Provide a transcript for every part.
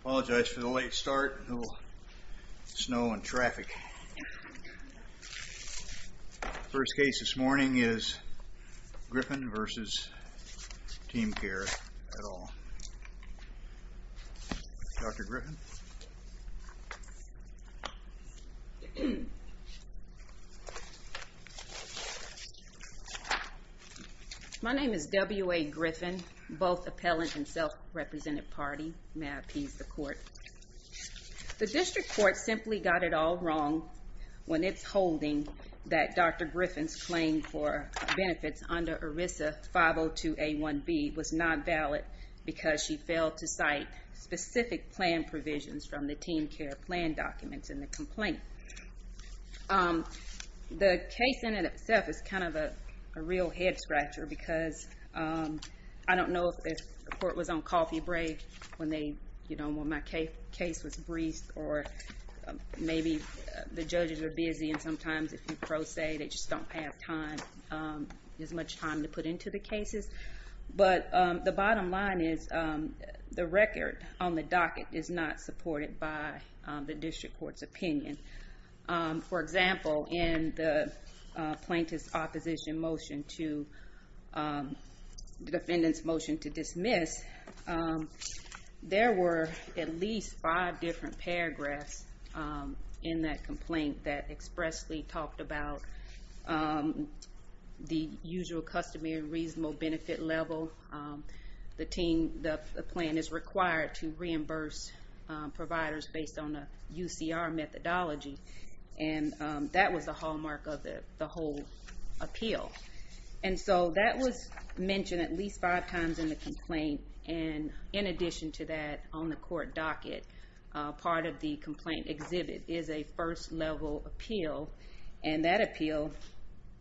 Apologize for the late start. A little snow and traffic. First case this morning is Griffin v. Teamcare et al. Dr. Griffin? My name is W.A. Griffin, both appellant and self-represented party. May I appease the court? The district court simply got it all wrong when it's holding that Dr. Griffin's claim for benefits under ERISA 502A1B was not valid because she failed to cite specific plan provisions from the Teamcare plan documents in the complaint. The case in itself is kind of a real head-scratcher because I don't know if the court was on coffee break when my case was briefed or maybe the judges are busy and sometimes if you pro se they just don't have as much time to put into the cases. But the bottom line is the record on the docket is not supported by the district court's opinion. For example, in the plaintiff's opposition motion to the defendant's motion to dismiss, there were at least five different paragraphs in that complaint that expressly talked about the usual customary reasonable benefit level. The plan is required to reimburse providers based on a UCR methodology. And that was the hallmark of the whole appeal. And so that was mentioned at least five times in the complaint. And in addition to that, on the court docket, part of the complaint exhibit is a first level appeal. And that appeal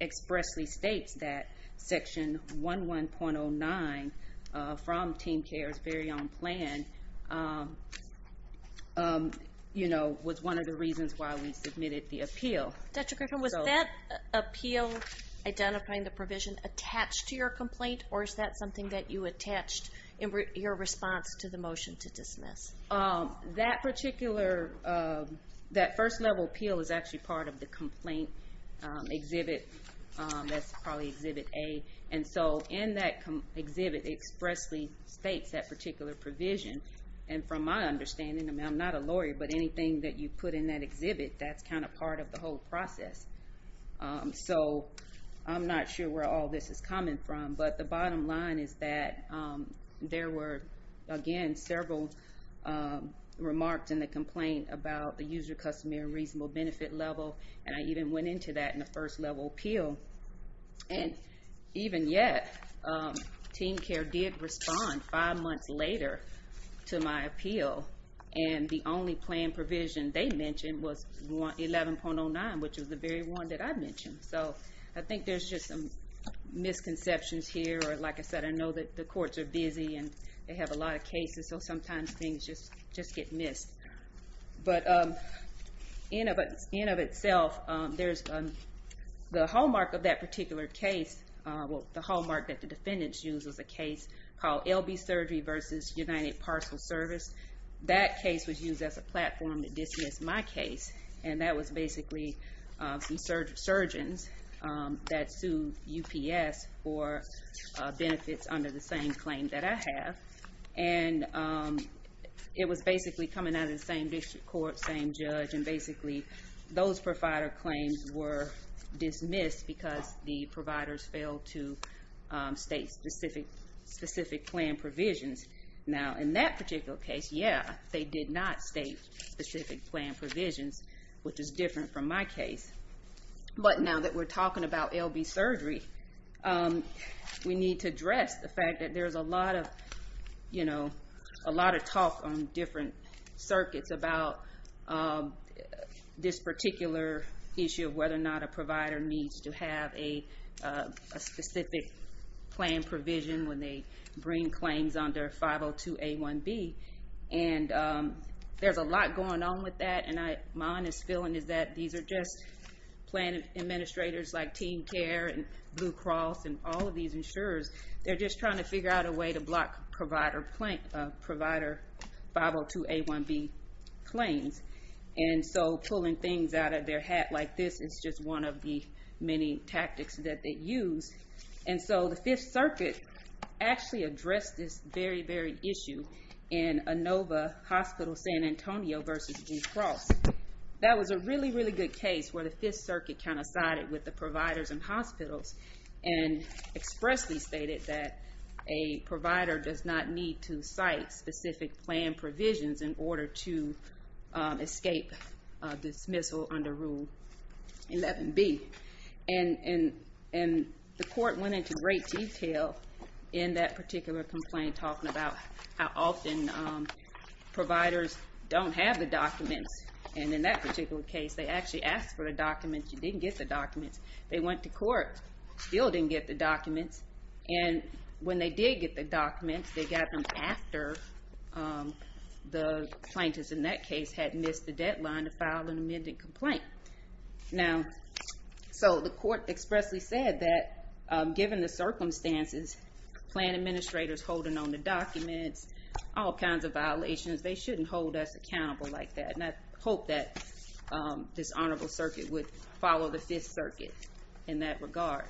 expressly states that section 11.09 from Teamcare's very own plan was one of the reasons why we submitted the appeal. Dr. Griffin, was that appeal identifying the provision attached to your complaint or is that something that you attached in your response to the motion to dismiss? That first level appeal is actually part of the complaint exhibit. That's probably exhibit A. And so in that exhibit, it expressly states that particular provision. And from my understanding, I'm not a lawyer, but anything that you put in that exhibit, that's kind of part of the whole process. So I'm not sure where all this is coming from. But the bottom line is that there were, again, several remarks in the complaint about the user-customer reasonable benefit level. And I even went into that in the first level appeal. And even yet, Teamcare did respond five months later to my appeal. And the only plan provision they mentioned was 11.09, which was the very one that I mentioned. So I think there's just some misconceptions here. Like I said, I know that the courts are busy and they have a lot of cases. So sometimes things just get missed. But in and of itself, the hallmark of that particular case, the hallmark that the defendants used was a case called LB Surgery v. United Parcel Service. That case was used as a platform to dismiss my case. And that was basically some surgeons that sued UPS for benefits under the same claim that I have. And it was basically coming out of the same district court, same judge. And basically those provider claims were dismissed because the providers failed to state specific plan provisions. Now in that particular case, yeah, they did not state specific plan provisions, which is different from my case. But now that we're talking about LB Surgery, we need to address the fact that there's a lot of talk on different circuits about this particular issue of whether or not a provider needs to have a specific plan provision when they bring claims under 502A1B. And there's a lot going on with that. And my honest feeling is that these are just plan administrators like Team Care and Blue Cross and all of these insurers. They're just trying to figure out a way to block provider 502A1B claims. And so pulling things out of their hat like this is just one of the many tactics that they use. And so the Fifth Circuit actually addressed this very, very issue in Inova Hospital San Antonio versus Blue Cross. That was a really, really good case where the Fifth Circuit kind of sided with the providers in hospitals and expressly stated that a provider does not need to cite specific plan provisions in order to escape dismissal under Rule 11B. And the court went into great detail in that particular complaint talking about how often providers don't have the documents. And in that particular case, they actually asked for the documents. You didn't get the documents. They went to court, still didn't get the documents. And when they did get the documents, they got them after the plaintiffs in that case had missed the deadline to file an amended complaint. Now, so the court expressly said that given the circumstances, plan administrators holding on to documents, all kinds of violations, they shouldn't hold us accountable like that. And I hope that this honorable circuit would follow the Fifth Circuit in that regard.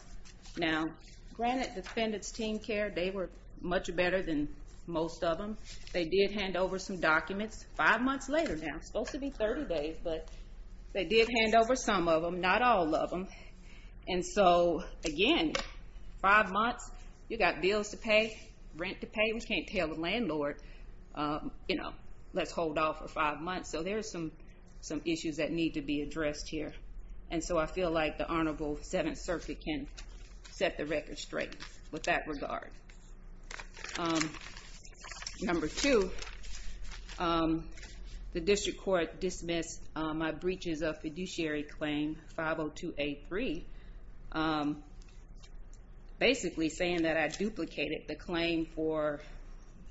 Now, granted defendants' team care, they were much better than most of them. They did hand over some documents. Five months later now, supposed to be 30 days, but they did hand over some of them, not all of them. And so, again, five months, you got bills to pay, rent to pay. We can't tell the landlord, you know, let's hold off for five months. So there are some issues that need to be addressed here. And so I feel like the honorable Seventh Circuit can set the record straight with that regard. Number two, the district court dismissed my breaches of fiduciary claim 502A3. Basically saying that I duplicated the claim for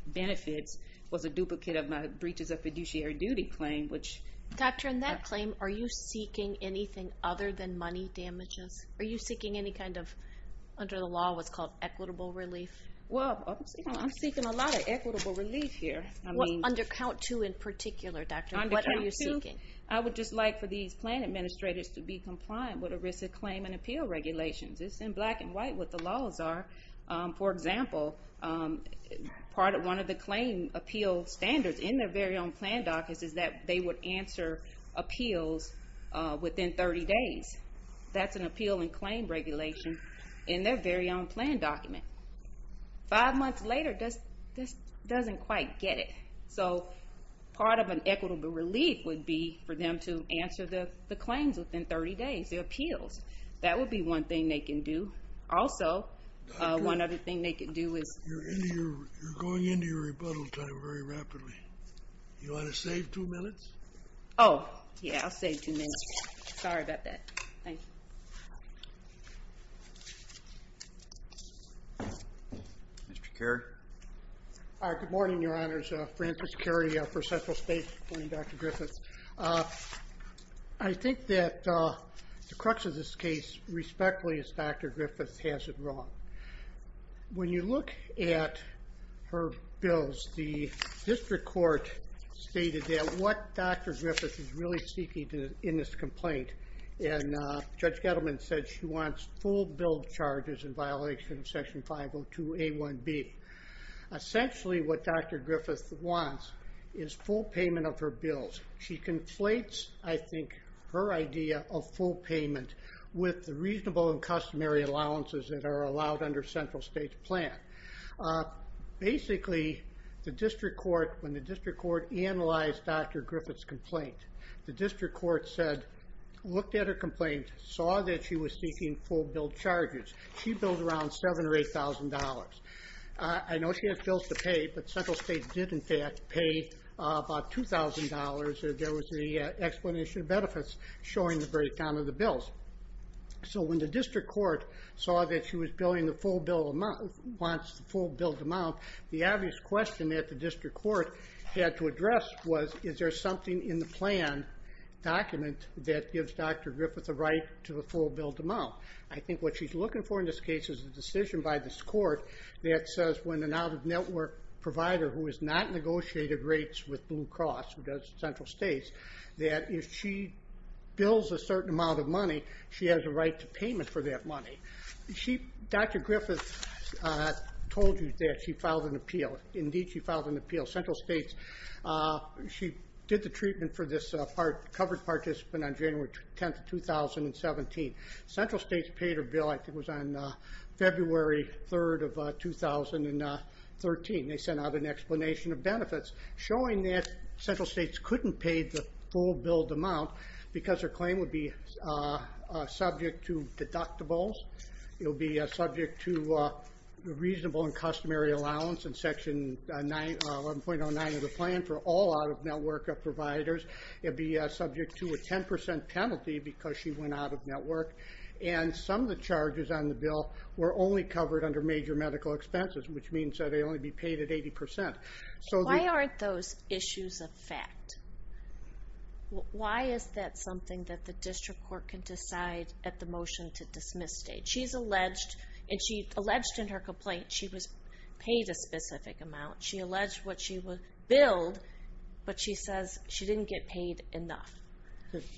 benefits was a duplicate of my breaches of fiduciary duty claim, which- Doctor, in that claim, are you seeking anything other than money damages? Are you seeking any kind of, under the law, what's called equitable relief? Well, I'm seeking a lot of equitable relief here. Under count two in particular, Doctor, what are you seeking? Under count two, I would just like for these plan administrators to be compliant with ERISA claim and appeal regulations. It's in black and white what the laws are. For example, part of one of the claim appeal standards in their very own plan documents is that they would answer appeals within 30 days. That's an appeal and claim regulation in their very own plan document. Five months later, this doesn't quite get it. So part of an equitable relief would be for them to answer the claims within 30 days, the appeals. That would be one thing they can do. Also, one other thing they can do is- You're going into your rebuttal time very rapidly. You want to save two minutes? Oh, yeah, I'll save two minutes. Sorry about that. Thank you. Mr. Carey. Good morning, Your Honors. Francis Carey for Central State. Good morning, Dr. Griffiths. I think that the crux of this case, respectfully, is Dr. Griffiths has it wrong. When you look at her bills, the district court stated that what Dr. Griffiths is really seeking in this complaint, and Judge Gettleman said she wants full bill charges in violation of Section 502A1B. Essentially, what Dr. Griffiths wants is full payment of her bills. She conflates, I think, her idea of full payment with the reasonable and customary allowances that are allowed under Central State's plan. Basically, when the district court analyzed Dr. Griffiths' complaint, the district court looked at her complaint, saw that she was seeking full bill charges. She billed around $7,000 or $8,000. I know she had bills to pay, but Central State did, in fact, pay about $2,000. There was the explanation of benefits showing the breakdown of the bills. When the district court saw that she was billing the full bill amount, wants the full bill amount, the obvious question that the district court had to address was, is there something in the plan document that gives Dr. Griffiths a right to a full bill amount? I think what she's looking for in this case is a decision by this court that says when an out-of-network provider who has not negotiated rates with Blue Cross, who does Central State, that if she bills a certain amount of money, she has a right to payment for that money. Dr. Griffiths told you that she filed an appeal. Indeed, she filed an appeal. Central State, she did the treatment for this covered participant on January 10, 2017. Central State paid her bill, I think it was on February 3, 2013. They sent out an explanation of benefits showing that Central State couldn't pay the full billed amount because her claim would be subject to deductibles. It would be subject to reasonable and customary allowance in Section 11.09 of the plan for all out-of-network providers. It would be subject to a 10% penalty because she went out-of-network. Some of the charges on the bill were only covered under major medical expenses, which means that they only be paid at 80%. Why aren't those issues a fact? Why is that something that the district court can decide at the motion to dismiss stage? She's alleged, and she alleged in her complaint she was paid a specific amount. She alleged what she would bill, but she says she didn't get paid enough.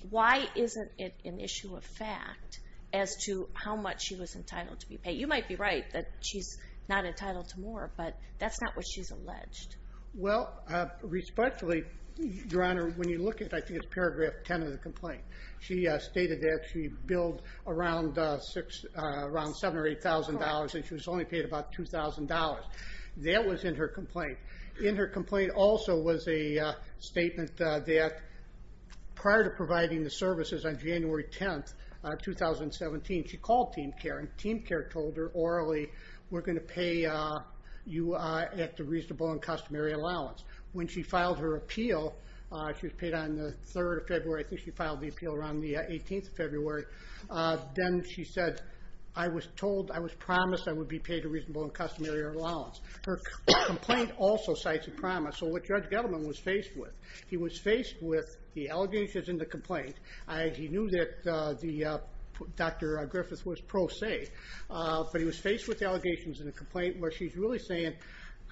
Why isn't it an issue of fact as to how much she was entitled to be paid? You might be right that she's not entitled to more, but that's not what she's alleged. Well, respectfully, Your Honor, when you look at, I think it's Paragraph 10 of the complaint, she stated that she billed around $7,000 or $8,000, and she was only paid about $2,000. That was in her complaint. In her complaint also was a statement that prior to providing the services on January 10, 2017, she called TeamCare, and TeamCare told her orally, we're going to pay you at the reasonable and customary allowance. When she filed her appeal, she was paid on the 3rd of February. I think she filed the appeal around the 18th of February. Then she said, I was told, I was promised I would be paid a reasonable and customary allowance. Her complaint also cites a promise, so what Judge Gettleman was faced with, he was faced with the allegations in the complaint. He knew that Dr. Griffith was pro se, but he was faced with the allegations in the complaint where she's really saying,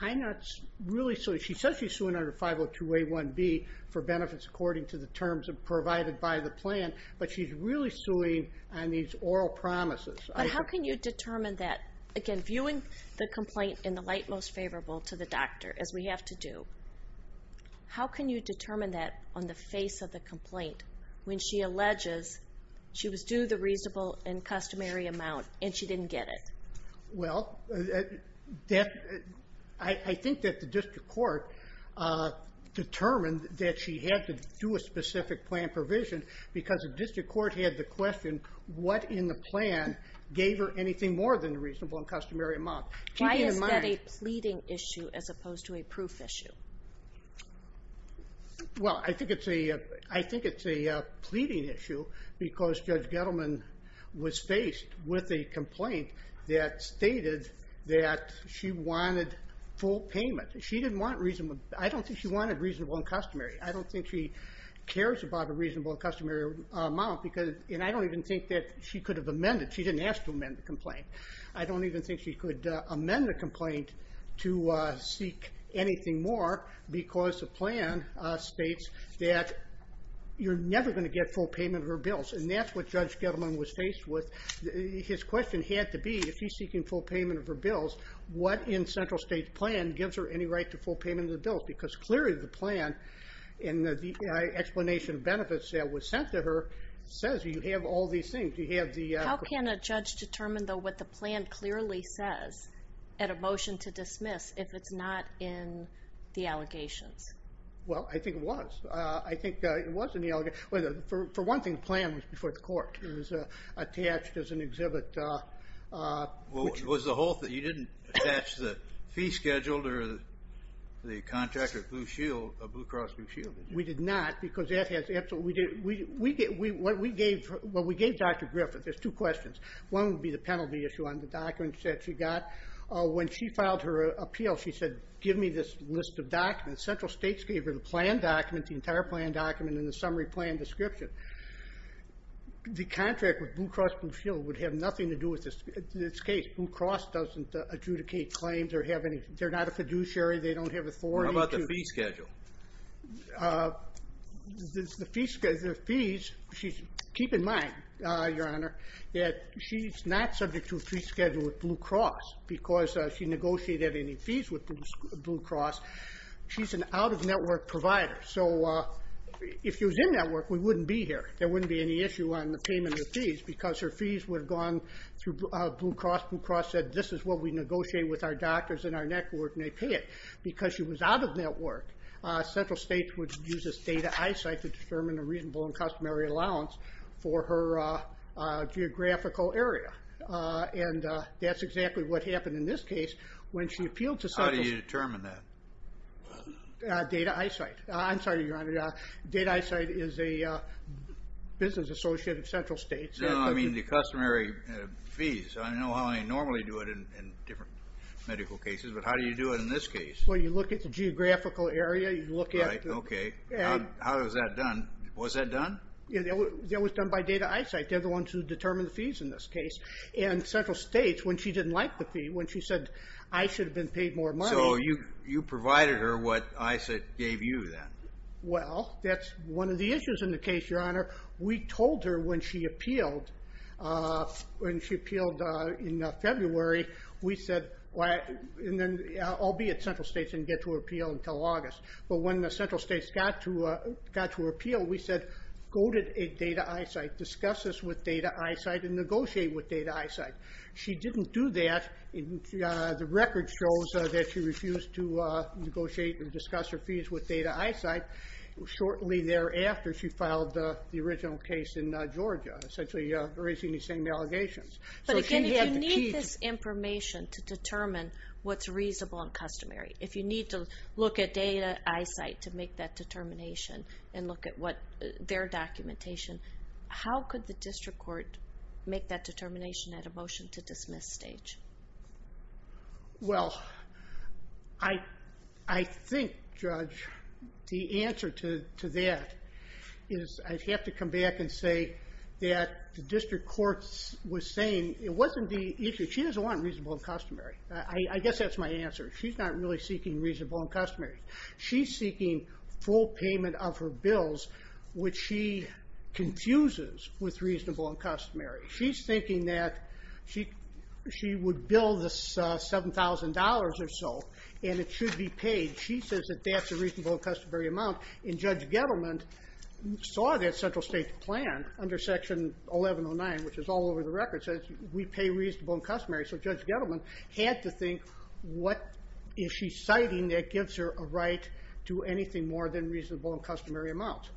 I'm not really suing. She says she's suing under 502A1B for benefits according to the terms provided by the plan, but she's really suing on these oral promises. But how can you determine that? Again, viewing the complaint in the light most favorable to the doctor, as we have to do, how can you determine that on the face of the complaint when she alleges she was due the reasonable and customary amount and she didn't get it? Well, I think that the district court determined that she had to do a specific plan provision because the district court had the question, what in the plan gave her anything more than the reasonable and customary amount? Why is that a pleading issue as opposed to a proof issue? Well, I think it's a pleading issue because Judge Gettleman was faced with a complaint that stated that she wanted full payment. She didn't want reasonable. I don't think she wanted reasonable and customary. I don't think she cares about a reasonable and customary amount, and I don't even think that she could have amended. She didn't ask to amend the complaint. I don't even think she could amend the complaint to seek anything more because the plan states that you're never going to get full payment of her bills, and that's what Judge Gettleman was faced with. His question had to be, if she's seeking full payment of her bills, what in Central State's plan gives her any right to full payment of the bills? Because clearly the plan and the explanation of benefits that was sent to her says you have all these things. How can a judge determine, though, what the plan clearly says at a motion to dismiss if it's not in the allegations? Well, I think it was. I think it was in the allegations. For one thing, the plan was before the court. It was attached as an exhibit. Was the whole thing. You didn't attach the fee schedule to the contract or Blue Cross Blue Shield? We did not because that has absolutely. What we gave Dr. Griffith, there's two questions. One would be the penalty issue on the documents that she got. When she filed her appeal, she said, give me this list of documents. Central State gave her the plan document, the entire plan document, and the summary plan description. The contract with Blue Cross Blue Shield would have nothing to do with this case. Blue Cross doesn't adjudicate claims or have any. They're not a fiduciary. They don't have authority to. What about the fee schedule? The fees, keep in mind, Your Honor, that she's not subject to a fee schedule with Blue Cross because she negotiated any fees with Blue Cross. She's an out-of-network provider. So if she was in-network, we wouldn't be here. There wouldn't be any issue on the payment of fees because her fees would have gone through Blue Cross. Blue Cross said, this is what we negotiate with our doctors and our network, and they pay it. Because she was out-of-network, Central State would use this data eyesight to determine a reasonable and customary allowance for her geographical area. And that's exactly what happened in this case when she appealed to Central State. How do you determine that? Data eyesight. I'm sorry, Your Honor, data eyesight is a business associate of Central State. No, I mean the customary fees. I know how I normally do it in different medical cases, but how do you do it in this case? Well, you look at the geographical area. Okay. How is that done? Was that done? That was done by data eyesight. They're the ones who determine the fees in this case. And Central State, when she didn't like the fee, when she said, I should have been paid more money. So you provided her what I said gave you then? Well, that's one of the issues in the case, Your Honor. We told her when she appealed. When she appealed in February, we said, I'll be at Central State and get to her appeal until August. But when Central State got to her appeal, we said go to data eyesight, discuss this with data eyesight, and negotiate with data eyesight. She didn't do that. The record shows that she refused to negotiate and discuss her fees with data eyesight. Shortly thereafter, she filed the original case in Georgia, essentially raising the same allegations. But again, if you need this information to determine what's reasonable and customary, if you need to look at data eyesight to make that determination and look at their documentation, how could the district court make that determination at a motion-to-dismiss stage? Well, I think, Judge, the answer to that is I'd have to come back and say that the district court was saying it wasn't the issue. She doesn't want reasonable and customary. I guess that's my answer. She's not really seeking reasonable and customary. She's seeking full payment of her bills, which she confuses with reasonable and customary. She's thinking that she would bill this $7,000 or so, and it should be paid. She says that that's a reasonable and customary amount, and Judge Gettleman saw that central state plan under Section 1109, which is all over the record, says we pay reasonable and customary. So Judge Gettleman had to think what is she citing that gives her a right to anything more than reasonable and customary amounts.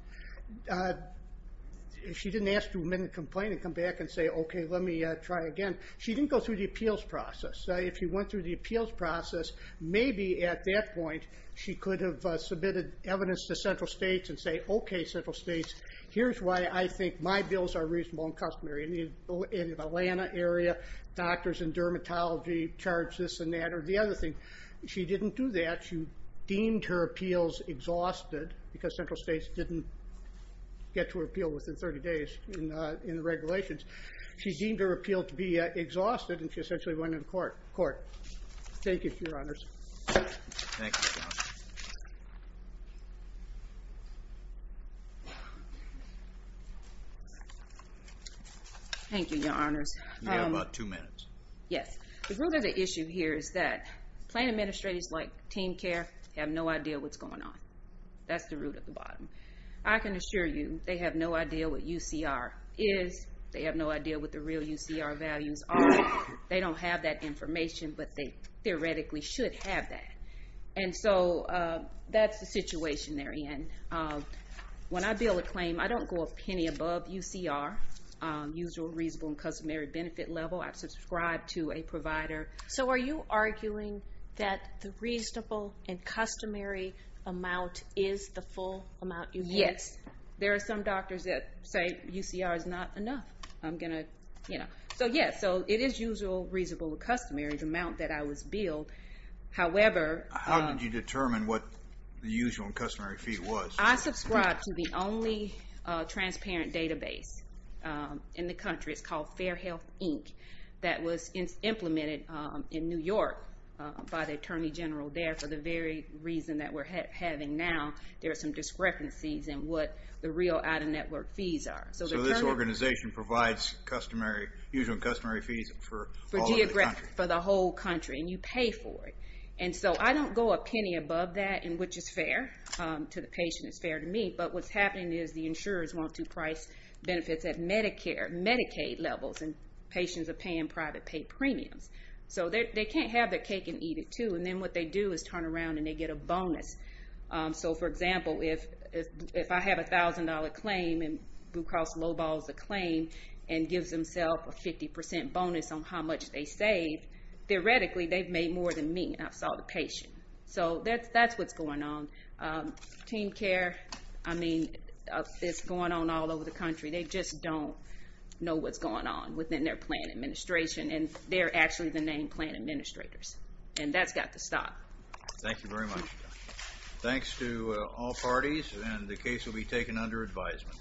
She didn't ask to amend the complaint and come back and say, okay, let me try again. She didn't go through the appeals process. If she went through the appeals process, maybe at that point she could have submitted evidence to central states and say, okay, central states, here's why I think my bills are reasonable and customary. In the Atlanta area, doctors and dermatology charge this and that, or the other thing. She didn't do that. She deemed her appeals exhausted because central states didn't get to her appeal within 30 days in the regulations. She deemed her appeal to be exhausted, and she essentially went to court. Thank you, Your Honors. Thank you, Your Honors. You have about two minutes. Yes. The root of the issue here is that plan administrators like Team Care have no idea what's going on. That's the root of the problem. I can assure you they have no idea what UCR is. They have no idea what the real UCR values are. They don't have that information, but they theoretically should have that. And so that's the situation they're in. When I bill a claim, I don't go a penny above UCR, usual reasonable and customary benefit level. I subscribe to a provider. So are you arguing that the reasonable and customary amount is the full amount you pay? Yes. There are some doctors that say UCR is not enough. I'm going to, you know. So, yes, it is usual, reasonable, and customary, the amount that I was billed. How did you determine what the usual and customary fee was? I subscribe to the only transparent database in the country. It's called Fair Health Inc. That was implemented in New York by the Attorney General there for the very reason that we're having now. There are some discrepancies in what the real out-of-network fees are. So this organization provides usual and customary fees for all of the country? For the whole country, and you pay for it. And so I don't go a penny above that, which is fair to the patient. It's fair to me. But what's happening is the insurers want to price benefits at Medicare, Medicaid levels, and patients are paying private pay premiums. So they can't have their cake and eat it too, and then what they do is turn around and they get a bonus. So, for example, if I have a $1,000 claim and Blue Cross Low Ball is a claim and gives themselves a 50% bonus on how much they save, theoretically they've made more than me and I've sold a patient. So that's what's going on. Team care, I mean, it's going on all over the country. They just don't know what's going on within their plan administration, and they're actually the named plan administrators, and that's got to stop. Thank you very much. Thanks to all parties, and the case will be taken under advisement.